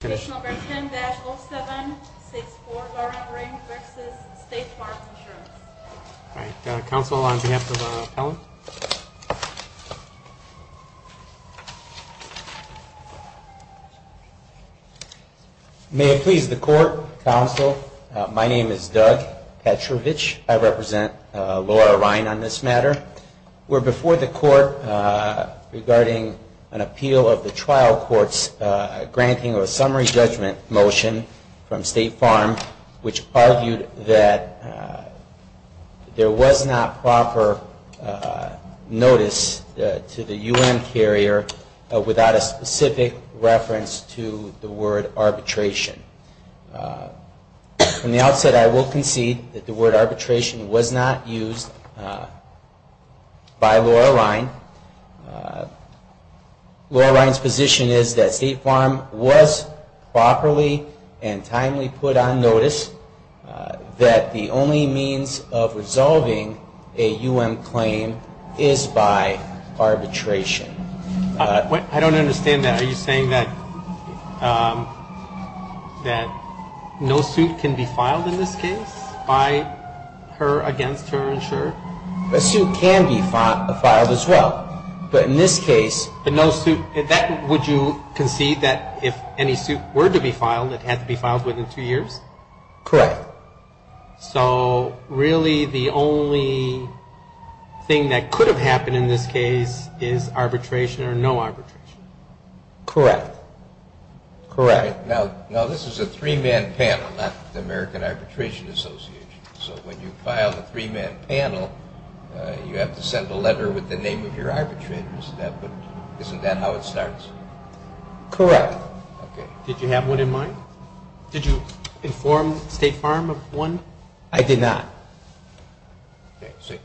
Number 10-07-64, Laura Rine v. State Farm Insurance. All right, counsel, on behalf of the appellant. May it please the court, counsel, my name is Doug Petrovich. I represent Laura Rine on this matter. We're before the court regarding an appeal of the trial court's granting of a summary judgment motion from State Farm, which argued that there was not proper notice to the U.N. carrier without a specific reference to the word arbitration. From the outset, I will concede that the word arbitration was not used by Laura Rine. Laura Rine's position is that State Farm was properly and timely put on notice that the only means of resolving a U.N. claim is by arbitration. I don't understand that. Are you saying that no suit can be filed in this case by her against her insurer? A suit can be filed as well, but in this case. But no suit, would you concede that if any suit were to be filed, it had to be filed within two years? Correct. So really the only thing that could have happened in this case is arbitration or no arbitration? Correct. Now, this is a three-man panel, not the American Arbitration Association. So when you file the three-man panel, you have to send a letter with the name of your arbitrator. Isn't that how it starts? Correct. Did you have one in mind? Did you inform State Farm of one? I did not.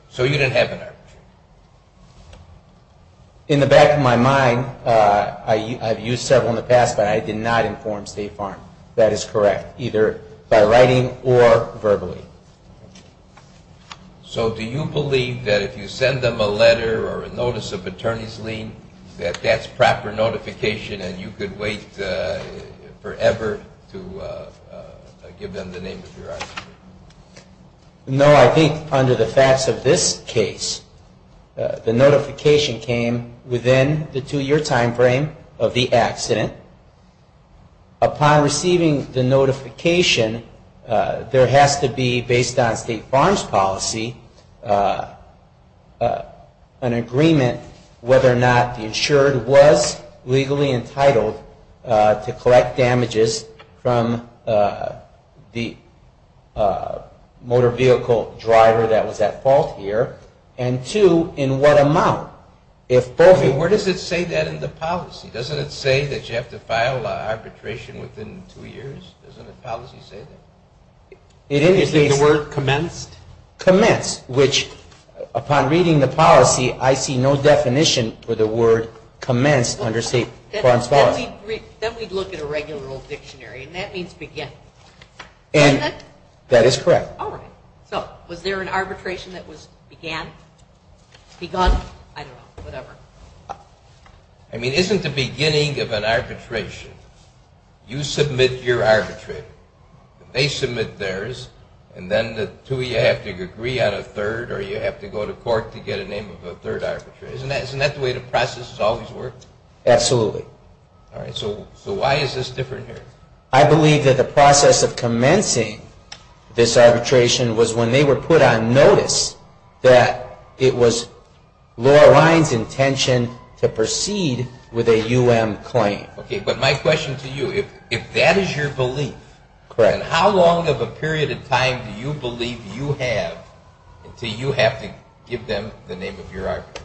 So you didn't have an arbitration? In the back of my mind, I've used several in the past, but I did not inform State Farm. That is correct, either by writing or verbally. So do you believe that if you send them a letter or a notice of attorney's lien, that that's proper notification and you could wait forever to give them the name of your arbitrator? No, I think under the facts of this case, the notification came within the two-year time frame of the accident. Upon receiving the notification, there has to be, based on State Farm's policy, an agreement whether or not the insured was legally entitled to collect damages from the motor vehicle driver that was at fault here, and two, in what amount. Where does it say that in the policy? Doesn't it say that you have to file arbitration within two years? Doesn't the policy say that? Is the word commenced? Commenced, which upon reading the policy, I see no definition for the word commenced under State Farm's policy. Then we'd look at a regular old dictionary, and that means begin. That is correct. So was there an arbitration that was begun? I don't know, whatever. I mean, isn't the beginning of an arbitration, you submit your arbitrator. They submit theirs, and then the two of you have to agree on a third, or you have to go to court to get a name of a third arbitrator. Isn't that the way the process has always worked? Absolutely. So why is this different here? I believe that the process of commencing this arbitration was when they were put on notice that it was Laura Ryan's intention to proceed with a U.M. claim. Okay, but my question to you, if that is your belief, then how long of a period of time do you believe you have until you have to give them the name of your arbitrator?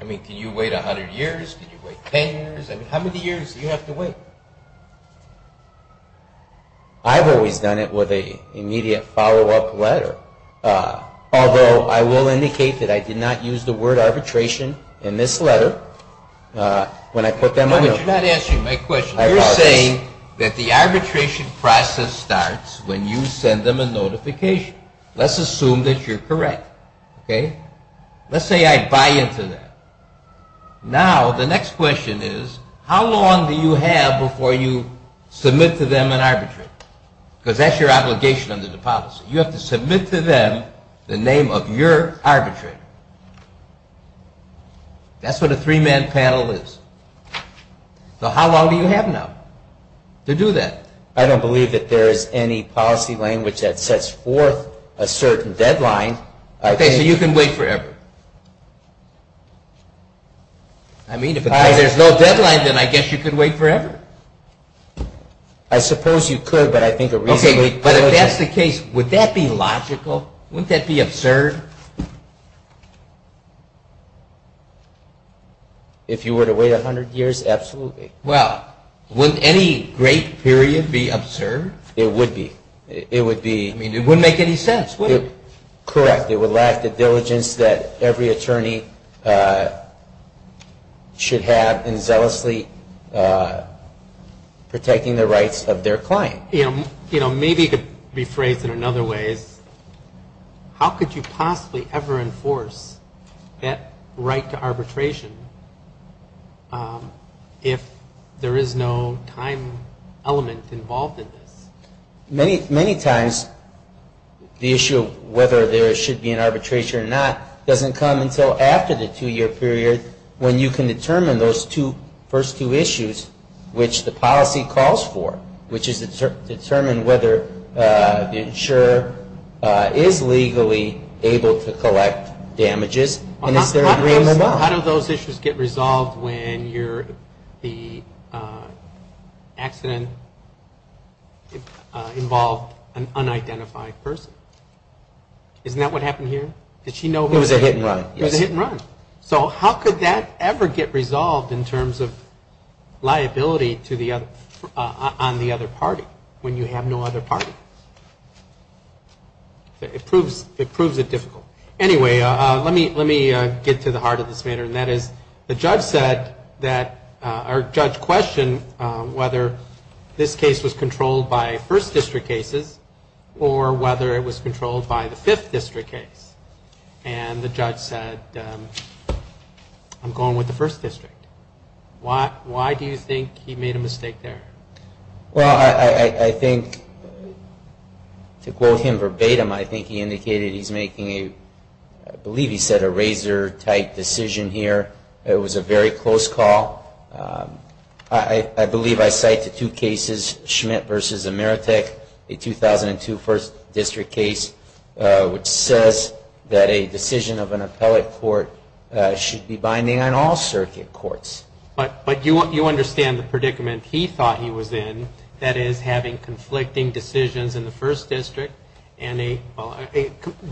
I mean, can you wait 100 years? Can you wait 10 years? I mean, how many years do you have to wait? I've always done it with an immediate follow-up letter, although I will indicate that I did not use the word arbitration in this letter. When I put them on the – No, but you're not answering my question. You're saying that the arbitration process starts when you send them a notification. Let's assume that you're correct, okay? Let's say I buy into that. Now, the next question is, how long do you have before you submit to them an arbitration? Because that's your obligation under the policy. You have to submit to them the name of your arbitrator. That's what a three-man panel is. So how long do you have now to do that? I don't believe that there is any policy language that sets forth a certain deadline. Okay, so you can wait forever. I mean, if there's no deadline, then I guess you could wait forever. I suppose you could, but I think a reasonable – Okay, but if that's the case, would that be logical? Wouldn't that be absurd? If you were to wait 100 years, absolutely. Well, would any great period be absurd? It would be. It would be. I mean, it wouldn't make any sense, would it? Correct. It would lack the diligence that every attorney should have in zealously protecting the rights of their client. Maybe it could be phrased in another way. How could you possibly ever enforce that right to arbitration if there is no time element involved in this? Many times the issue of whether there should be an arbitration or not doesn't come until after the two-year period when you can determine those first two issues, which the policy calls for, which is to determine whether the insurer is legally able to collect damages and is there agreement on. How do those issues get resolved when the accident involved an unidentified person? Isn't that what happened here? It was a hit and run. It was a hit and run. So how could that ever get resolved in terms of liability on the other party when you have no other party? It proves it difficult. Anyway, let me get to the heart of this matter, and that is the judge said that our judge questioned whether this case was controlled by first district cases or whether it was controlled by the fifth district case. And the judge said, I'm going with the first district. Why do you think he made a mistake there? Well, I think to quote him verbatim, I think he indicated he's making a, I believe he said a razor-tight decision here. It was a very close call. I believe I cite the two cases, Schmidt v. Ameritech, the 2002 first district case, which says that a decision of an appellate court should be binding on all circuit courts. But you understand the predicament he thought he was in, that is, having conflicting decisions in the first district and a, well,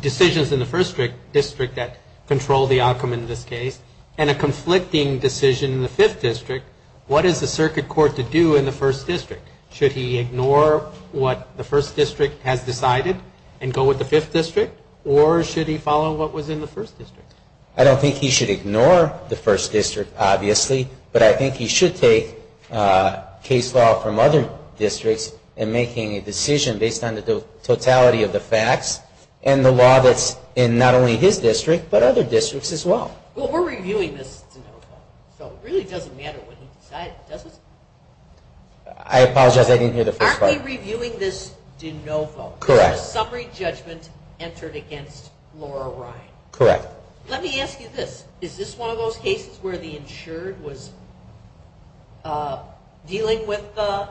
decisions in the first district that control the outcome in this case, and a conflicting decision in the fifth district, what is the circuit court to do in the first district? Should he ignore what the first district has decided and go with the fifth district, or should he follow what was in the first district? I don't think he should ignore the first district, obviously, but I think he should take case law from other districts and making a decision based on the totality of the facts and the law that's in not only his district, but other districts as well. Well, we're reviewing this de novo, so it really doesn't matter what he decides, does it? I apologize, I didn't hear the first part. Aren't we reviewing this de novo? Correct. There's a summary judgment entered against Laura Ryan. Correct. Let me ask you this. Is this one of those cases where the insured was dealing with the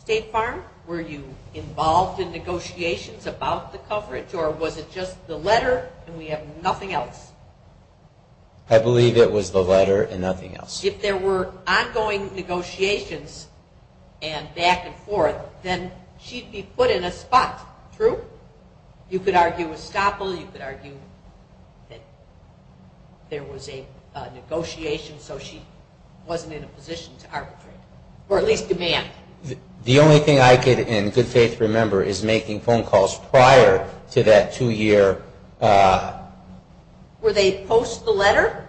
State Farm? Were you involved in negotiations about the coverage, or was it just the letter and we have nothing else? I believe it was the letter and nothing else. If there were ongoing negotiations and back and forth, then she'd be put in a spot, true? You could argue estoppel, you could argue that there was a negotiation, so she wasn't in a position to arbitrate, or at least demand. The only thing I can in good faith remember is making phone calls prior to that two-year. Were they post the letter?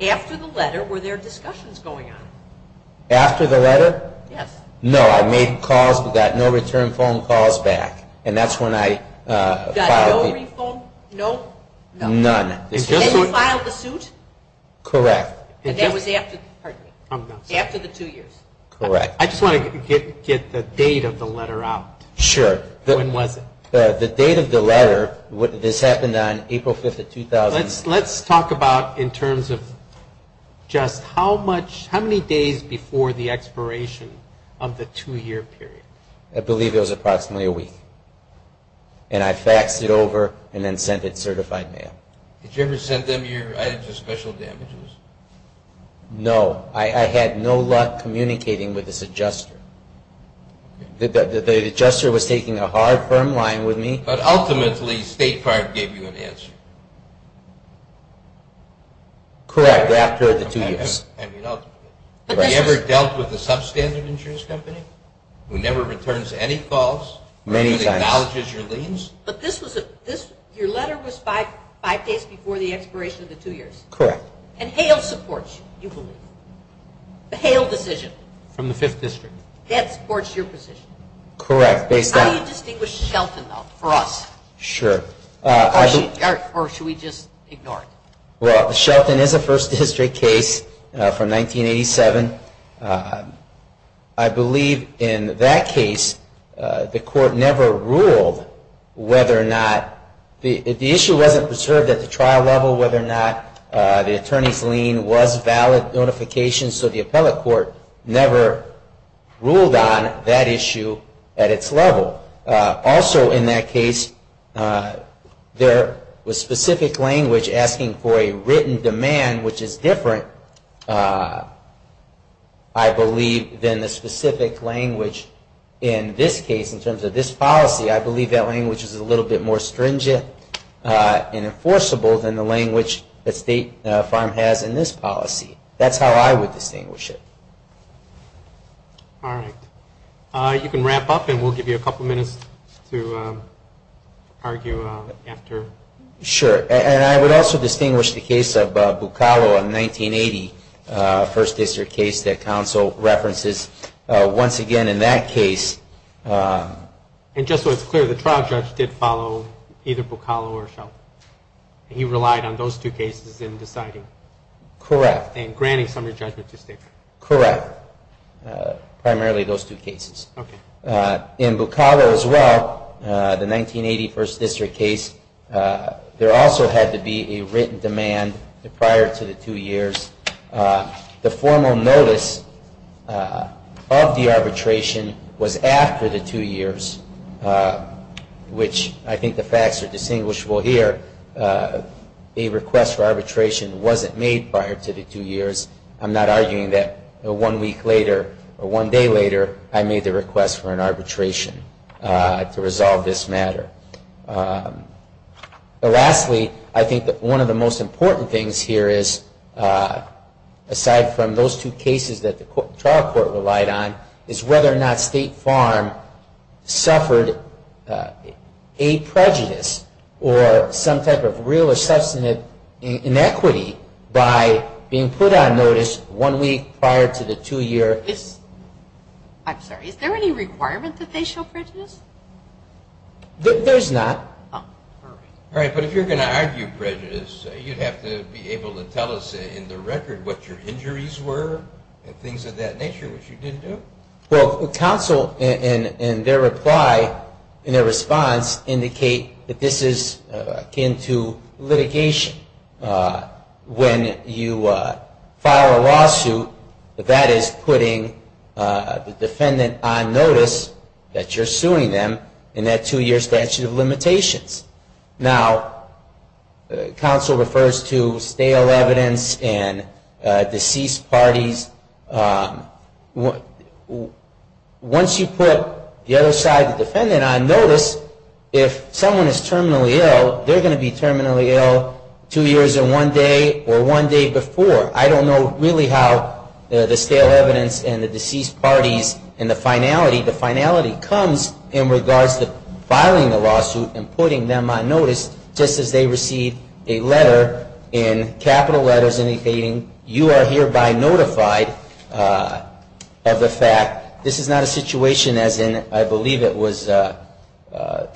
After the letter, were there discussions going on? After the letter? Yes. No, I made calls but got no return phone calls back, and that's when I filed. Got no re-phone, no? None. And you filed the suit? Correct. And that was after the two years? Correct. I just want to get the date of the letter out. Sure. When was it? The date of the letter, this happened on April 5th of 2000. Let's talk about in terms of just how many days before the expiration of the two-year period. I believe it was approximately a week, and I faxed it over and then sent it certified mail. Did you ever send them your items of special damages? No. I had no luck communicating with this adjuster. The adjuster was taking a hard, firm line with me. But ultimately State Farm gave you an answer? Correct, after the two years. Have you ever dealt with a substandard insurance company who never returns any calls? Many times. Who acknowledges your liens? But your letter was five days before the expiration of the two years? Correct. And Hale supports you, you believe? The Hale decision? From the Fifth District. That supports your position? Correct, based on How do you distinguish Shelton, though, for us? Sure. Or should we just ignore it? Well, Shelton is a First District case from 1987. I believe in that case the court never ruled whether or not the issue wasn't preserved at the trial level, whether or not the attorney's lien was valid notification, so the appellate court never ruled on that issue at its level. Also in that case, there was specific language asking for a written demand, which is different, I believe, than the specific language in this case in terms of this policy. I believe that language is a little bit more stringent and enforceable than the language that State Farm has in this policy. That's how I would distinguish it. All right. You can wrap up, and we'll give you a couple minutes to argue after. Sure. And I would also distinguish the case of Buccalo in 1980, a First District case that counsel references. Once again, in that case... And just so it's clear, the trial judge did follow either Buccalo or Shelton. He relied on those two cases in deciding. Correct. And granting summary judgment to State Farm. Correct. Primarily those two cases. Okay. In Buccalo as well, the 1980 First District case, there also had to be a written demand prior to the two years. The formal notice of the arbitration was after the two years, which I think the facts are distinguishable here. A request for arbitration wasn't made prior to the two years. I'm not arguing that one week later or one day later I made the request for an arbitration to resolve this matter. Lastly, I think that one of the most important things here is, aside from those two cases that the trial court relied on, is whether or not State Farm suffered a prejudice or some type of real or substantive inequity by being put on notice one week prior to the two years. I'm sorry. Is there any requirement that they show prejudice? There's not. All right. But if you're going to argue prejudice, you'd have to be able to tell us in the record what your injuries were and things of that nature, which you didn't do. Well, counsel, in their reply, in their response, indicate that this is akin to litigation. When you file a lawsuit, that is putting the defendant on notice that you're suing them in that two-year statute of limitations. Now, counsel refers to stale evidence and deceased parties. Once you put the other side of the defendant on notice, if someone is terminally ill, they're going to be terminally ill two years in one day or one day before. I don't know really how the stale evidence and the deceased parties and the finality, the finality comes in regards to filing the lawsuit and putting them on notice. I'm not satisfied of the fact. This is not a situation as in, I believe it was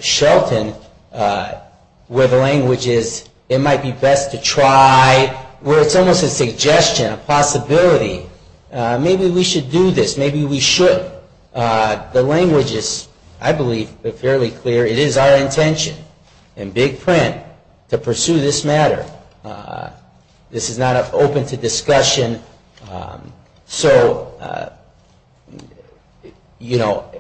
Shelton, where the language is, it might be best to try, where it's almost a suggestion, a possibility. Maybe we should do this. Maybe we shouldn't. The language is, I believe, fairly clear. It is our intention in big print to pursue this matter. This is not open to discussion. So, you know,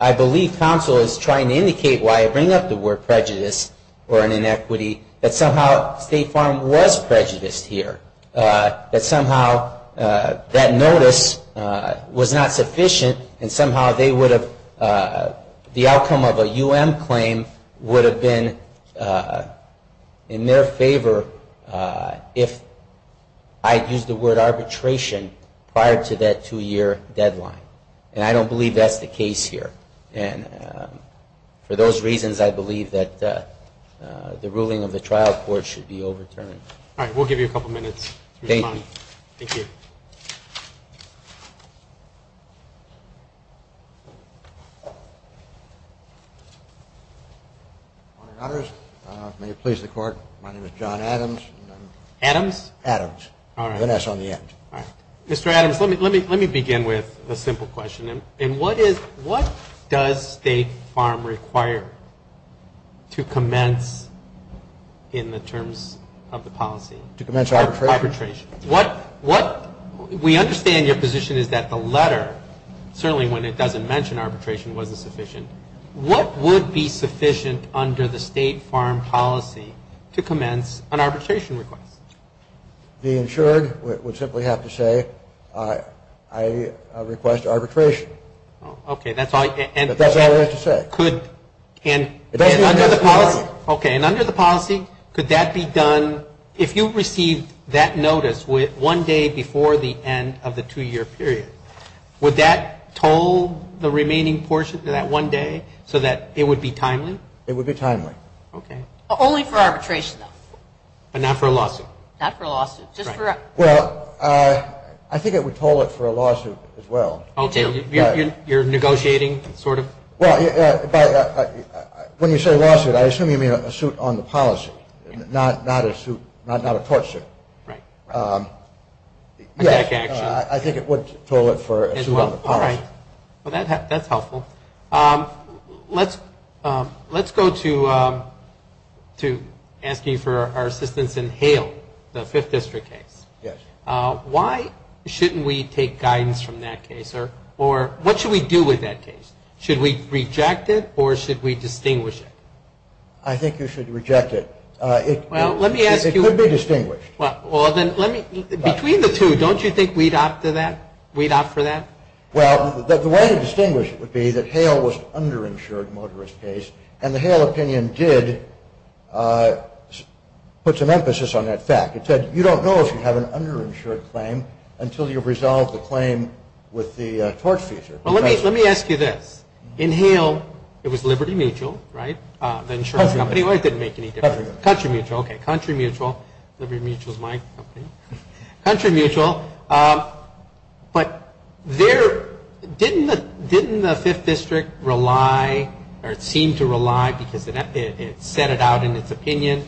I believe counsel is trying to indicate why I bring up the word prejudice or an inequity, that somehow State Farm was prejudiced here. That somehow that notice was not sufficient and somehow they would have, the outcome of a U.M. claim would have been in their favor. If I had used the word arbitration prior to that two-year deadline. And I don't believe that's the case here. And for those reasons, I believe that the ruling of the trial court should be overturned. All right. We'll give you a couple minutes. Thank you. May it please the Court. My name is John Adams. Adams? Adams. All right. With an S on the end. All right. Mr. Adams, let me begin with a simple question. And what is, what does State Farm require to commence in the terms of the policy? To commence arbitration? Arbitration. What, we understand your position is that the letter, certainly when it doesn't mention arbitration, wasn't sufficient. What would be sufficient under the State Farm policy to commence an arbitration request? The insured would simply have to say, I request arbitration. Okay. That's all it has to say. Could, and under the policy. Okay. And under the policy, could that be done, if you received that notice one day before the end of the two-year period, would that toll the remaining portion to that one day so that it would be timely? It would be timely. Okay. Only for arbitration, though. But not for a lawsuit? Not for a lawsuit. Right. Just for a. Well, I think it would toll it for a lawsuit as well. You're negotiating, sort of? Well, when you say lawsuit, I assume you mean a suit on the policy, not a suit, not a court suit. Right. Attack action. I think it would toll it for a suit on the policy. All right. Well, that's helpful. Let's go to asking for our assistance in Hale, the Fifth District case. Yes. Why shouldn't we take guidance from that case, or what should we do with that case? Should we reject it, or should we distinguish it? I think you should reject it. Well, let me ask you. It could be distinguished. Well, then let me. Between the two, don't you think we'd opt for that? We'd opt for that? Well, the way to distinguish it would be that Hale was an underinsured motorist case, and the Hale opinion did put some emphasis on that fact. It said, you don't know if you have an underinsured claim until you resolve the claim with the tort feature. Well, let me ask you this. In Hale, it was Liberty Mutual, right, the insurance company? Or it didn't make any difference? Country Mutual. Country Mutual. Liberty Mutual is my company. Country Mutual. But didn't the Fifth District rely, or it seemed to rely, because it set it out in its opinion,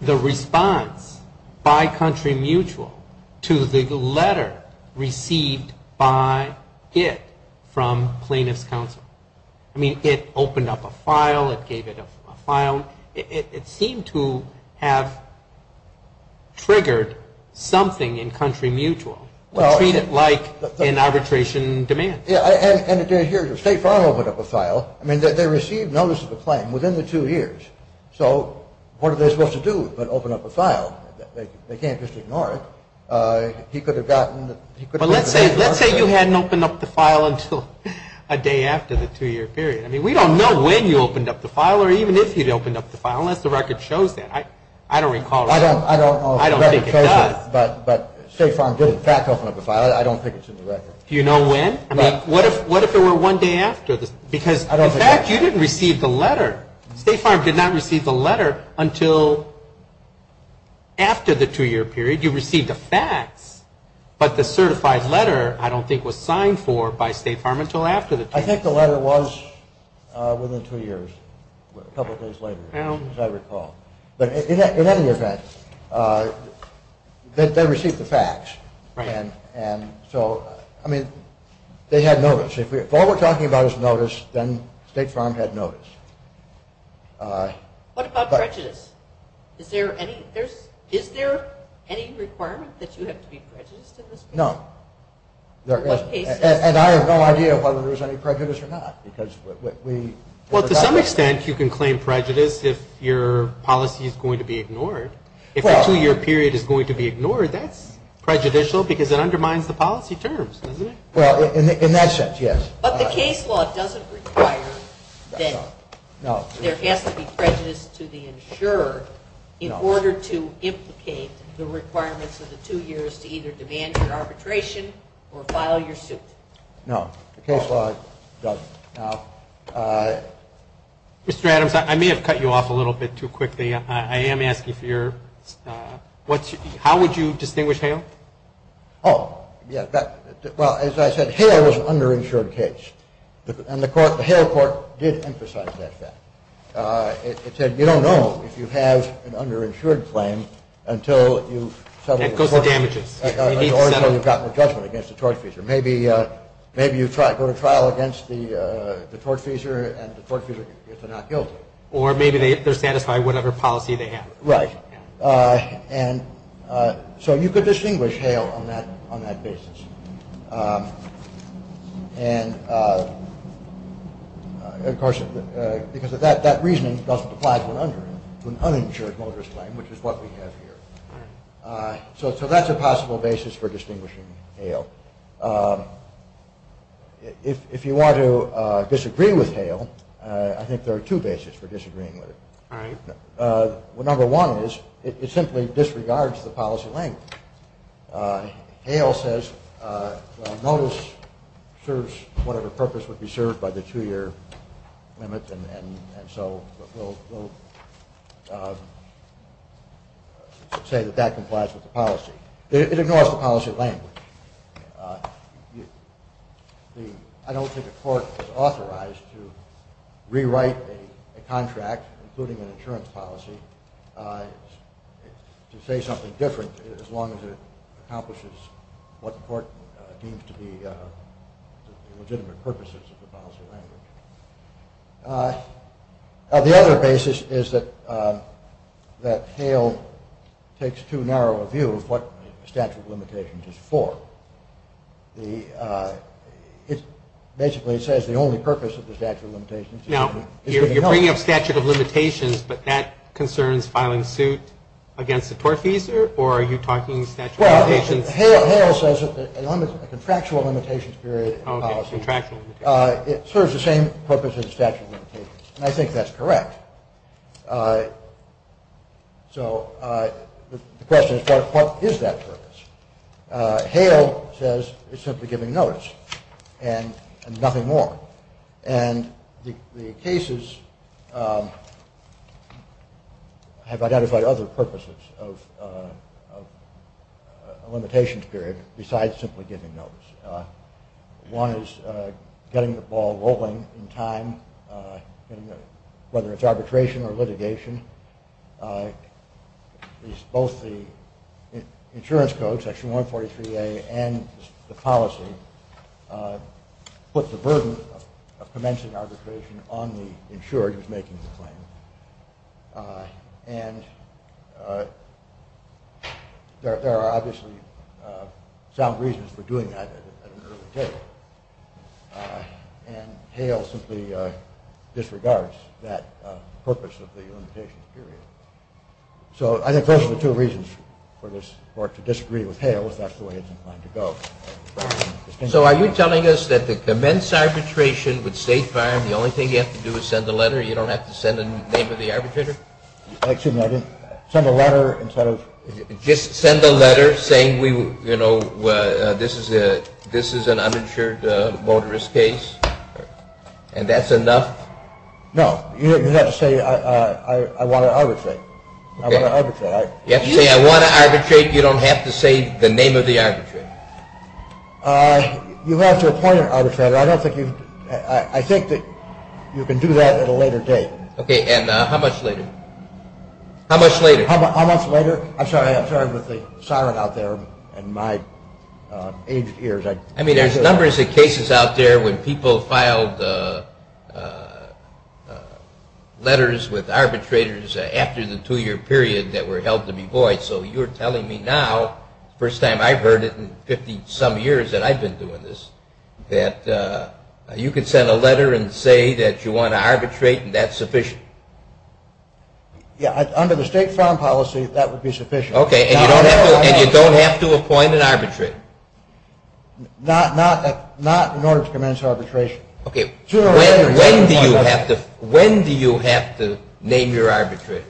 the response by Country Mutual to the letter received by it from plaintiff's counsel? I mean, it opened up a file. It gave it a file. It seemed to have triggered something in Country Mutual to treat it like an arbitration demand. Yeah, and State Farm opened up a file. I mean, they received notice of a claim within the two years. So what are they supposed to do but open up a file? They can't just ignore it. He could have gotten the State Farm. But let's say you hadn't opened up the file until a day after the two-year period. I mean, we don't know when you opened up the file or even if you'd opened up the file unless the record shows that. I don't recall. I don't know if the record shows it. I don't think it does. But State Farm did, in fact, open up a file. I don't think it's in the record. Do you know when? I mean, what if it were one day after? Because, in fact, you didn't receive the letter. State Farm did not receive the letter until after the two-year period. You received the facts. But the certified letter, I don't think, was signed for by State Farm until after the two years. I think the letter was within two years, a couple of days later, as I recall. But in any event, they received the facts. And so, I mean, they had notice. If all we're talking about is notice, then State Farm had notice. What about prejudice? Is there any requirement that you have to be prejudiced in this case? No. And I have no idea whether there's any prejudice or not. Well, to some extent, you can claim prejudice if your policy is going to be ignored. If a two-year period is going to be ignored, that's prejudicial because it undermines the policy terms, doesn't it? Well, in that sense, yes. But the case law doesn't require that there has to be prejudice to the insurer in order to implicate the requirements of the two years to either demand your arbitration or file your suit. No, the case law doesn't. Mr. Adams, I may have cut you off a little bit too quickly. I am asking for your ‑‑ how would you distinguish Hale? Oh, yes. Well, as I said, Hale was an underinsured case. And the Hale court did emphasize that fact. It said you don't know if you have an underinsured claim until you've ‑‑ That goes to damages. Or until you've gotten a judgment against the tortfeasor. Maybe you go to trial against the tortfeasor and the tortfeasor gets a not guilty. Or maybe they're satisfied with whatever policy they have. Right. And so you could distinguish Hale on that basis. And, of course, because of that, that reasoning doesn't apply to an uninsured motorist claim, which is what we have here. So that's a possible basis for distinguishing Hale. If you want to disagree with Hale, I think there are two bases for disagreeing with it. All right. Number one is it simply disregards the policy language. Hale says a notice serves whatever purpose would be served by the two‑year limit, and so we'll say that that complies with the policy. It ignores the policy language. I don't think a court is authorized to rewrite a contract, including an insurance policy, to say something different, as long as it accomplishes what the court deems to be the legitimate purposes of the policy language. The other basis is that Hale takes too narrow a view of what the statute of limitations is for. Basically, it says the only purpose of the statute of limitations is to help. You're bringing up statute of limitations, but that concerns filing suit against the tortfeasor, or are you talking statute of limitations? Well, Hale says a contractual limitations period in the policy. Okay, contractual limitations. It serves the same purpose as statute of limitations, and I think that's correct. So the question is, what is that purpose? Hale says it's simply giving notice and nothing more. And the cases have identified other purposes of a limitations period besides simply giving notice. One is getting the ball rolling in time, whether it's arbitration or litigation. Both the insurance code, section 143A, and the policy put the burden of commencing arbitration on the insured who's making the claim. And there are obviously sound reasons for doing that at an early table. And Hale simply disregards that purpose of the limitations period. So I think those are the two reasons for this court to disagree with Hale, if that's the way it's inclined to go. So are you telling us that to commence arbitration with State Farm, the only thing you have to do is send a letter? You don't have to send the name of the arbitrator? Just send a letter saying this is an uninsured motorist case, and that's enough? No, you have to say I want to arbitrate. You have to say I want to arbitrate, you don't have to say the name of the arbitrator? You have to appoint an arbitrator. I think that you can do that at a later date. Okay, and how much later? How much later? I'm sorry, with the siren out there and my aged ears. I mean, there's a number of cases out there when people filed letters with arbitrators after the two-year period that were held to be void. So you're telling me now, first time I've heard it in 50-some years that I've been doing this, that you can send a letter and say that you want to arbitrate and that's sufficient? Yeah, under the State Farm policy, that would be sufficient. Okay, and you don't have to appoint an arbitrator? Not in order to commence arbitration. Okay, when do you have to name your arbitrator?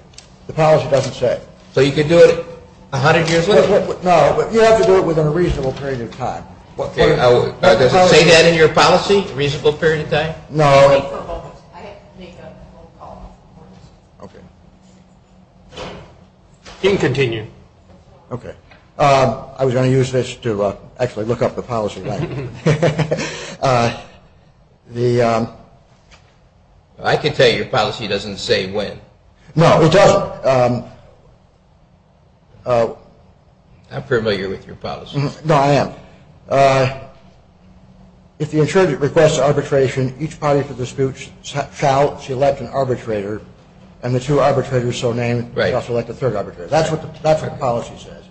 The policy doesn't say. So you can do it 100 years later? No, you have to do it within a reasonable period of time. Does it say that in your policy, a reasonable period of time? No. You can continue. Okay, I was going to use this to actually look up the policy. I can tell you your policy doesn't say when. No, it doesn't. I'm familiar with your policy. No, I am. If the insurgent requests arbitration, each party for the dispute shall select an arbitrator, and the two arbitrators so named shall select a third arbitrator. That's what the policy says.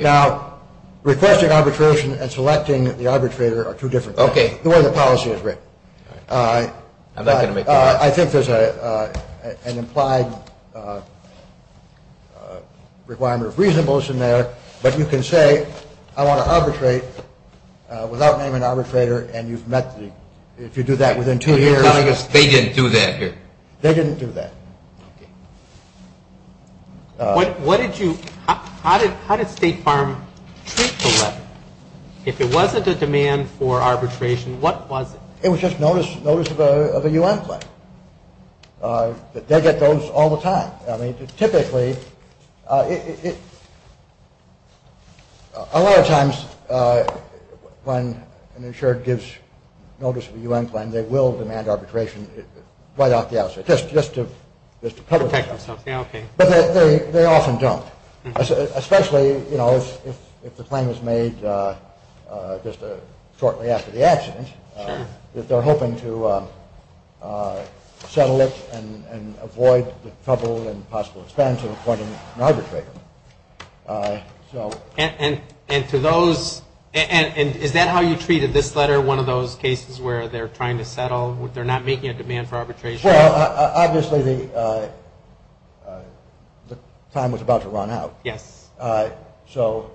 Now, requesting arbitration and selecting the arbitrator are two different things. Okay. The way the policy is written. I think there's an implied requirement of reasonableness in there. But you can say I want to arbitrate without naming an arbitrator, and if you do that within two years. They didn't do that here. They didn't do that. How did State Farm treat the letter? If it wasn't a demand for arbitration, what was it? It was just notice of a U.N. claim. They get those all the time. Typically, a lot of times when an insured gives notice of a U.N. claim, they will demand arbitration right off the outset just to protect themselves. But they often don't, especially if the claim is made just shortly after the accident. They're hoping to settle it and avoid the trouble and possible expense of appointing an arbitrator. Is that how you treated this letter, one of those cases where they're trying to settle, they're not making a demand for arbitration? Obviously, the time was about to run out. Yes. So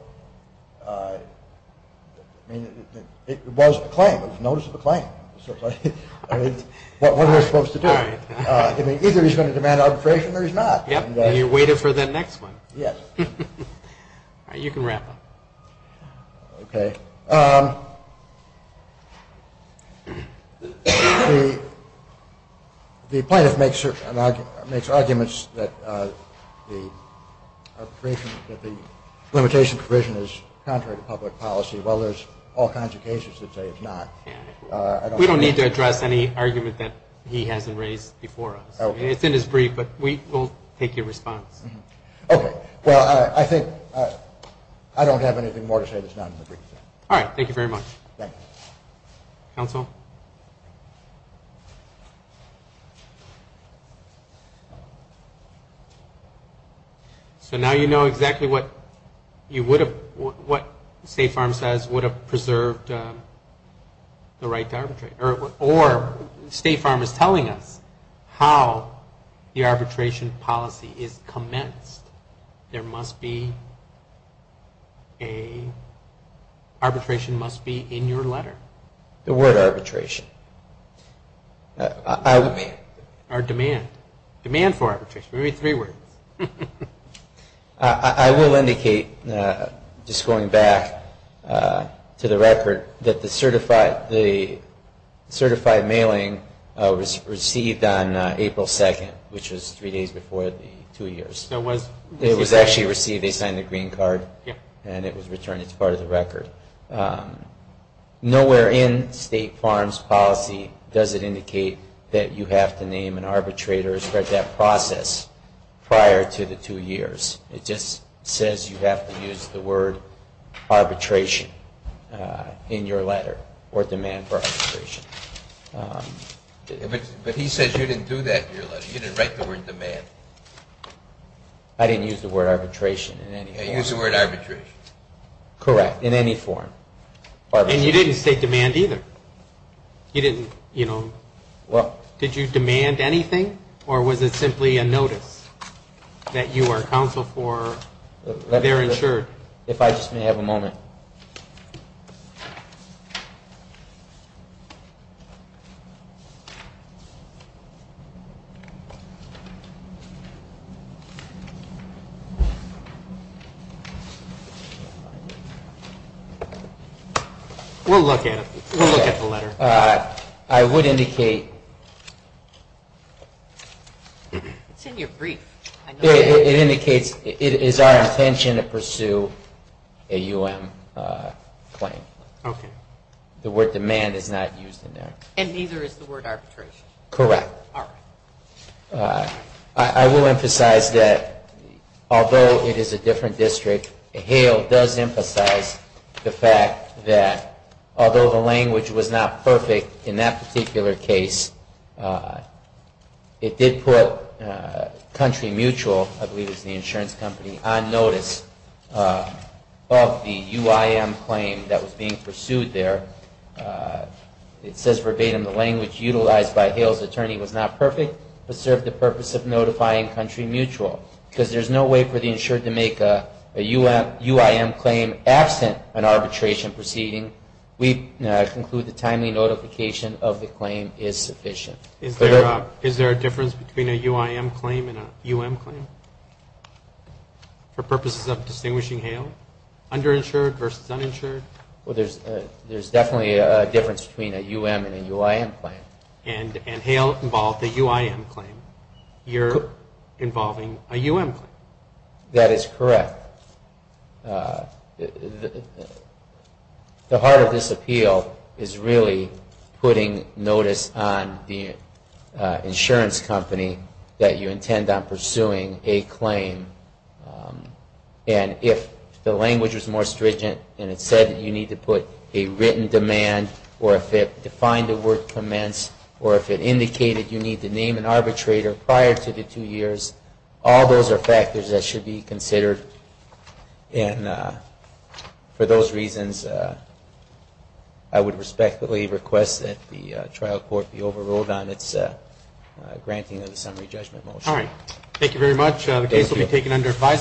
it was a claim. It was notice of a claim. It's what we're supposed to do. Either he's going to demand arbitration or he's not. And you're waiting for the next one. Yes. You can wrap up. Okay. The plaintiff makes arguments that the limitation provision is contrary to public policy. Well, there's all kinds of cases that say it's not. We don't need to address any argument that he hasn't raised before us. It's in his brief, but we will take your response. Okay. Well, I think I don't have anything more to say that's not in the brief. All right. Thank you very much. Thank you. Counsel? So now you know exactly what State Farm says would have preserved the right to arbitrate. Or State Farm is telling us how the arbitration policy is commenced. There must be a – arbitration must be in your letter. The word arbitration. Or demand. Demand for arbitration. Maybe three words. I will indicate, just going back to the record, that the certified mailing was received on April 2nd, which was three days before the two years. It was actually received. They signed the green card, and it was returned as part of the record. Nowhere in State Farm's policy does it indicate that you have to name an arbitrator or spread that process prior to the two years. It just says you have to use the word arbitration in your letter, or demand for arbitration. But he says you didn't do that in your letter. You didn't write the word demand. I didn't use the word arbitration in any form. You used the word arbitration. Correct. In any form. And you didn't state demand either. You didn't, you know – did you demand anything, or was it simply a notice that you are counsel for their insured? If I just may have a moment. We'll look at it. We'll look at the letter. I would indicate – It's in your brief. It indicates it is our intention to pursue a U.M. claim. Okay. The word demand is not used in there. And neither is the word arbitration. Correct. All right. I will emphasize that although it is a different district, Hale does emphasize the fact that although the language was not perfect in that particular case, it did put Country Mutual, I believe it was the insurance company, on notice of the UIM claim that was being pursued there. It says verbatim, the language utilized by Hale's attorney was not perfect, but served the purpose of notifying Country Mutual. Because there's no way for the insured to make a UIM claim absent an arbitration proceeding. We conclude the timely notification of the claim is sufficient. Is there a difference between a UIM claim and a U.M. claim for purposes of distinguishing Hale? Underinsured versus uninsured? There's definitely a difference between a U.M. and a UIM claim. And Hale involved a UIM claim. You're involving a U.M. claim. That is correct. The heart of this appeal is really putting notice on the insurance company that you intend on pursuing a claim. And if the language was more stringent and it said that you need to put a written demand, or if it defined a word commenced, or if it indicated you need to name an arbitrator prior to the two years, all those are factors that should be considered. And for those reasons, I would respectfully request that the trial court be overruled on its granting of the summary judgment motion. All right. Thank you very much. The case will be taken under advisory.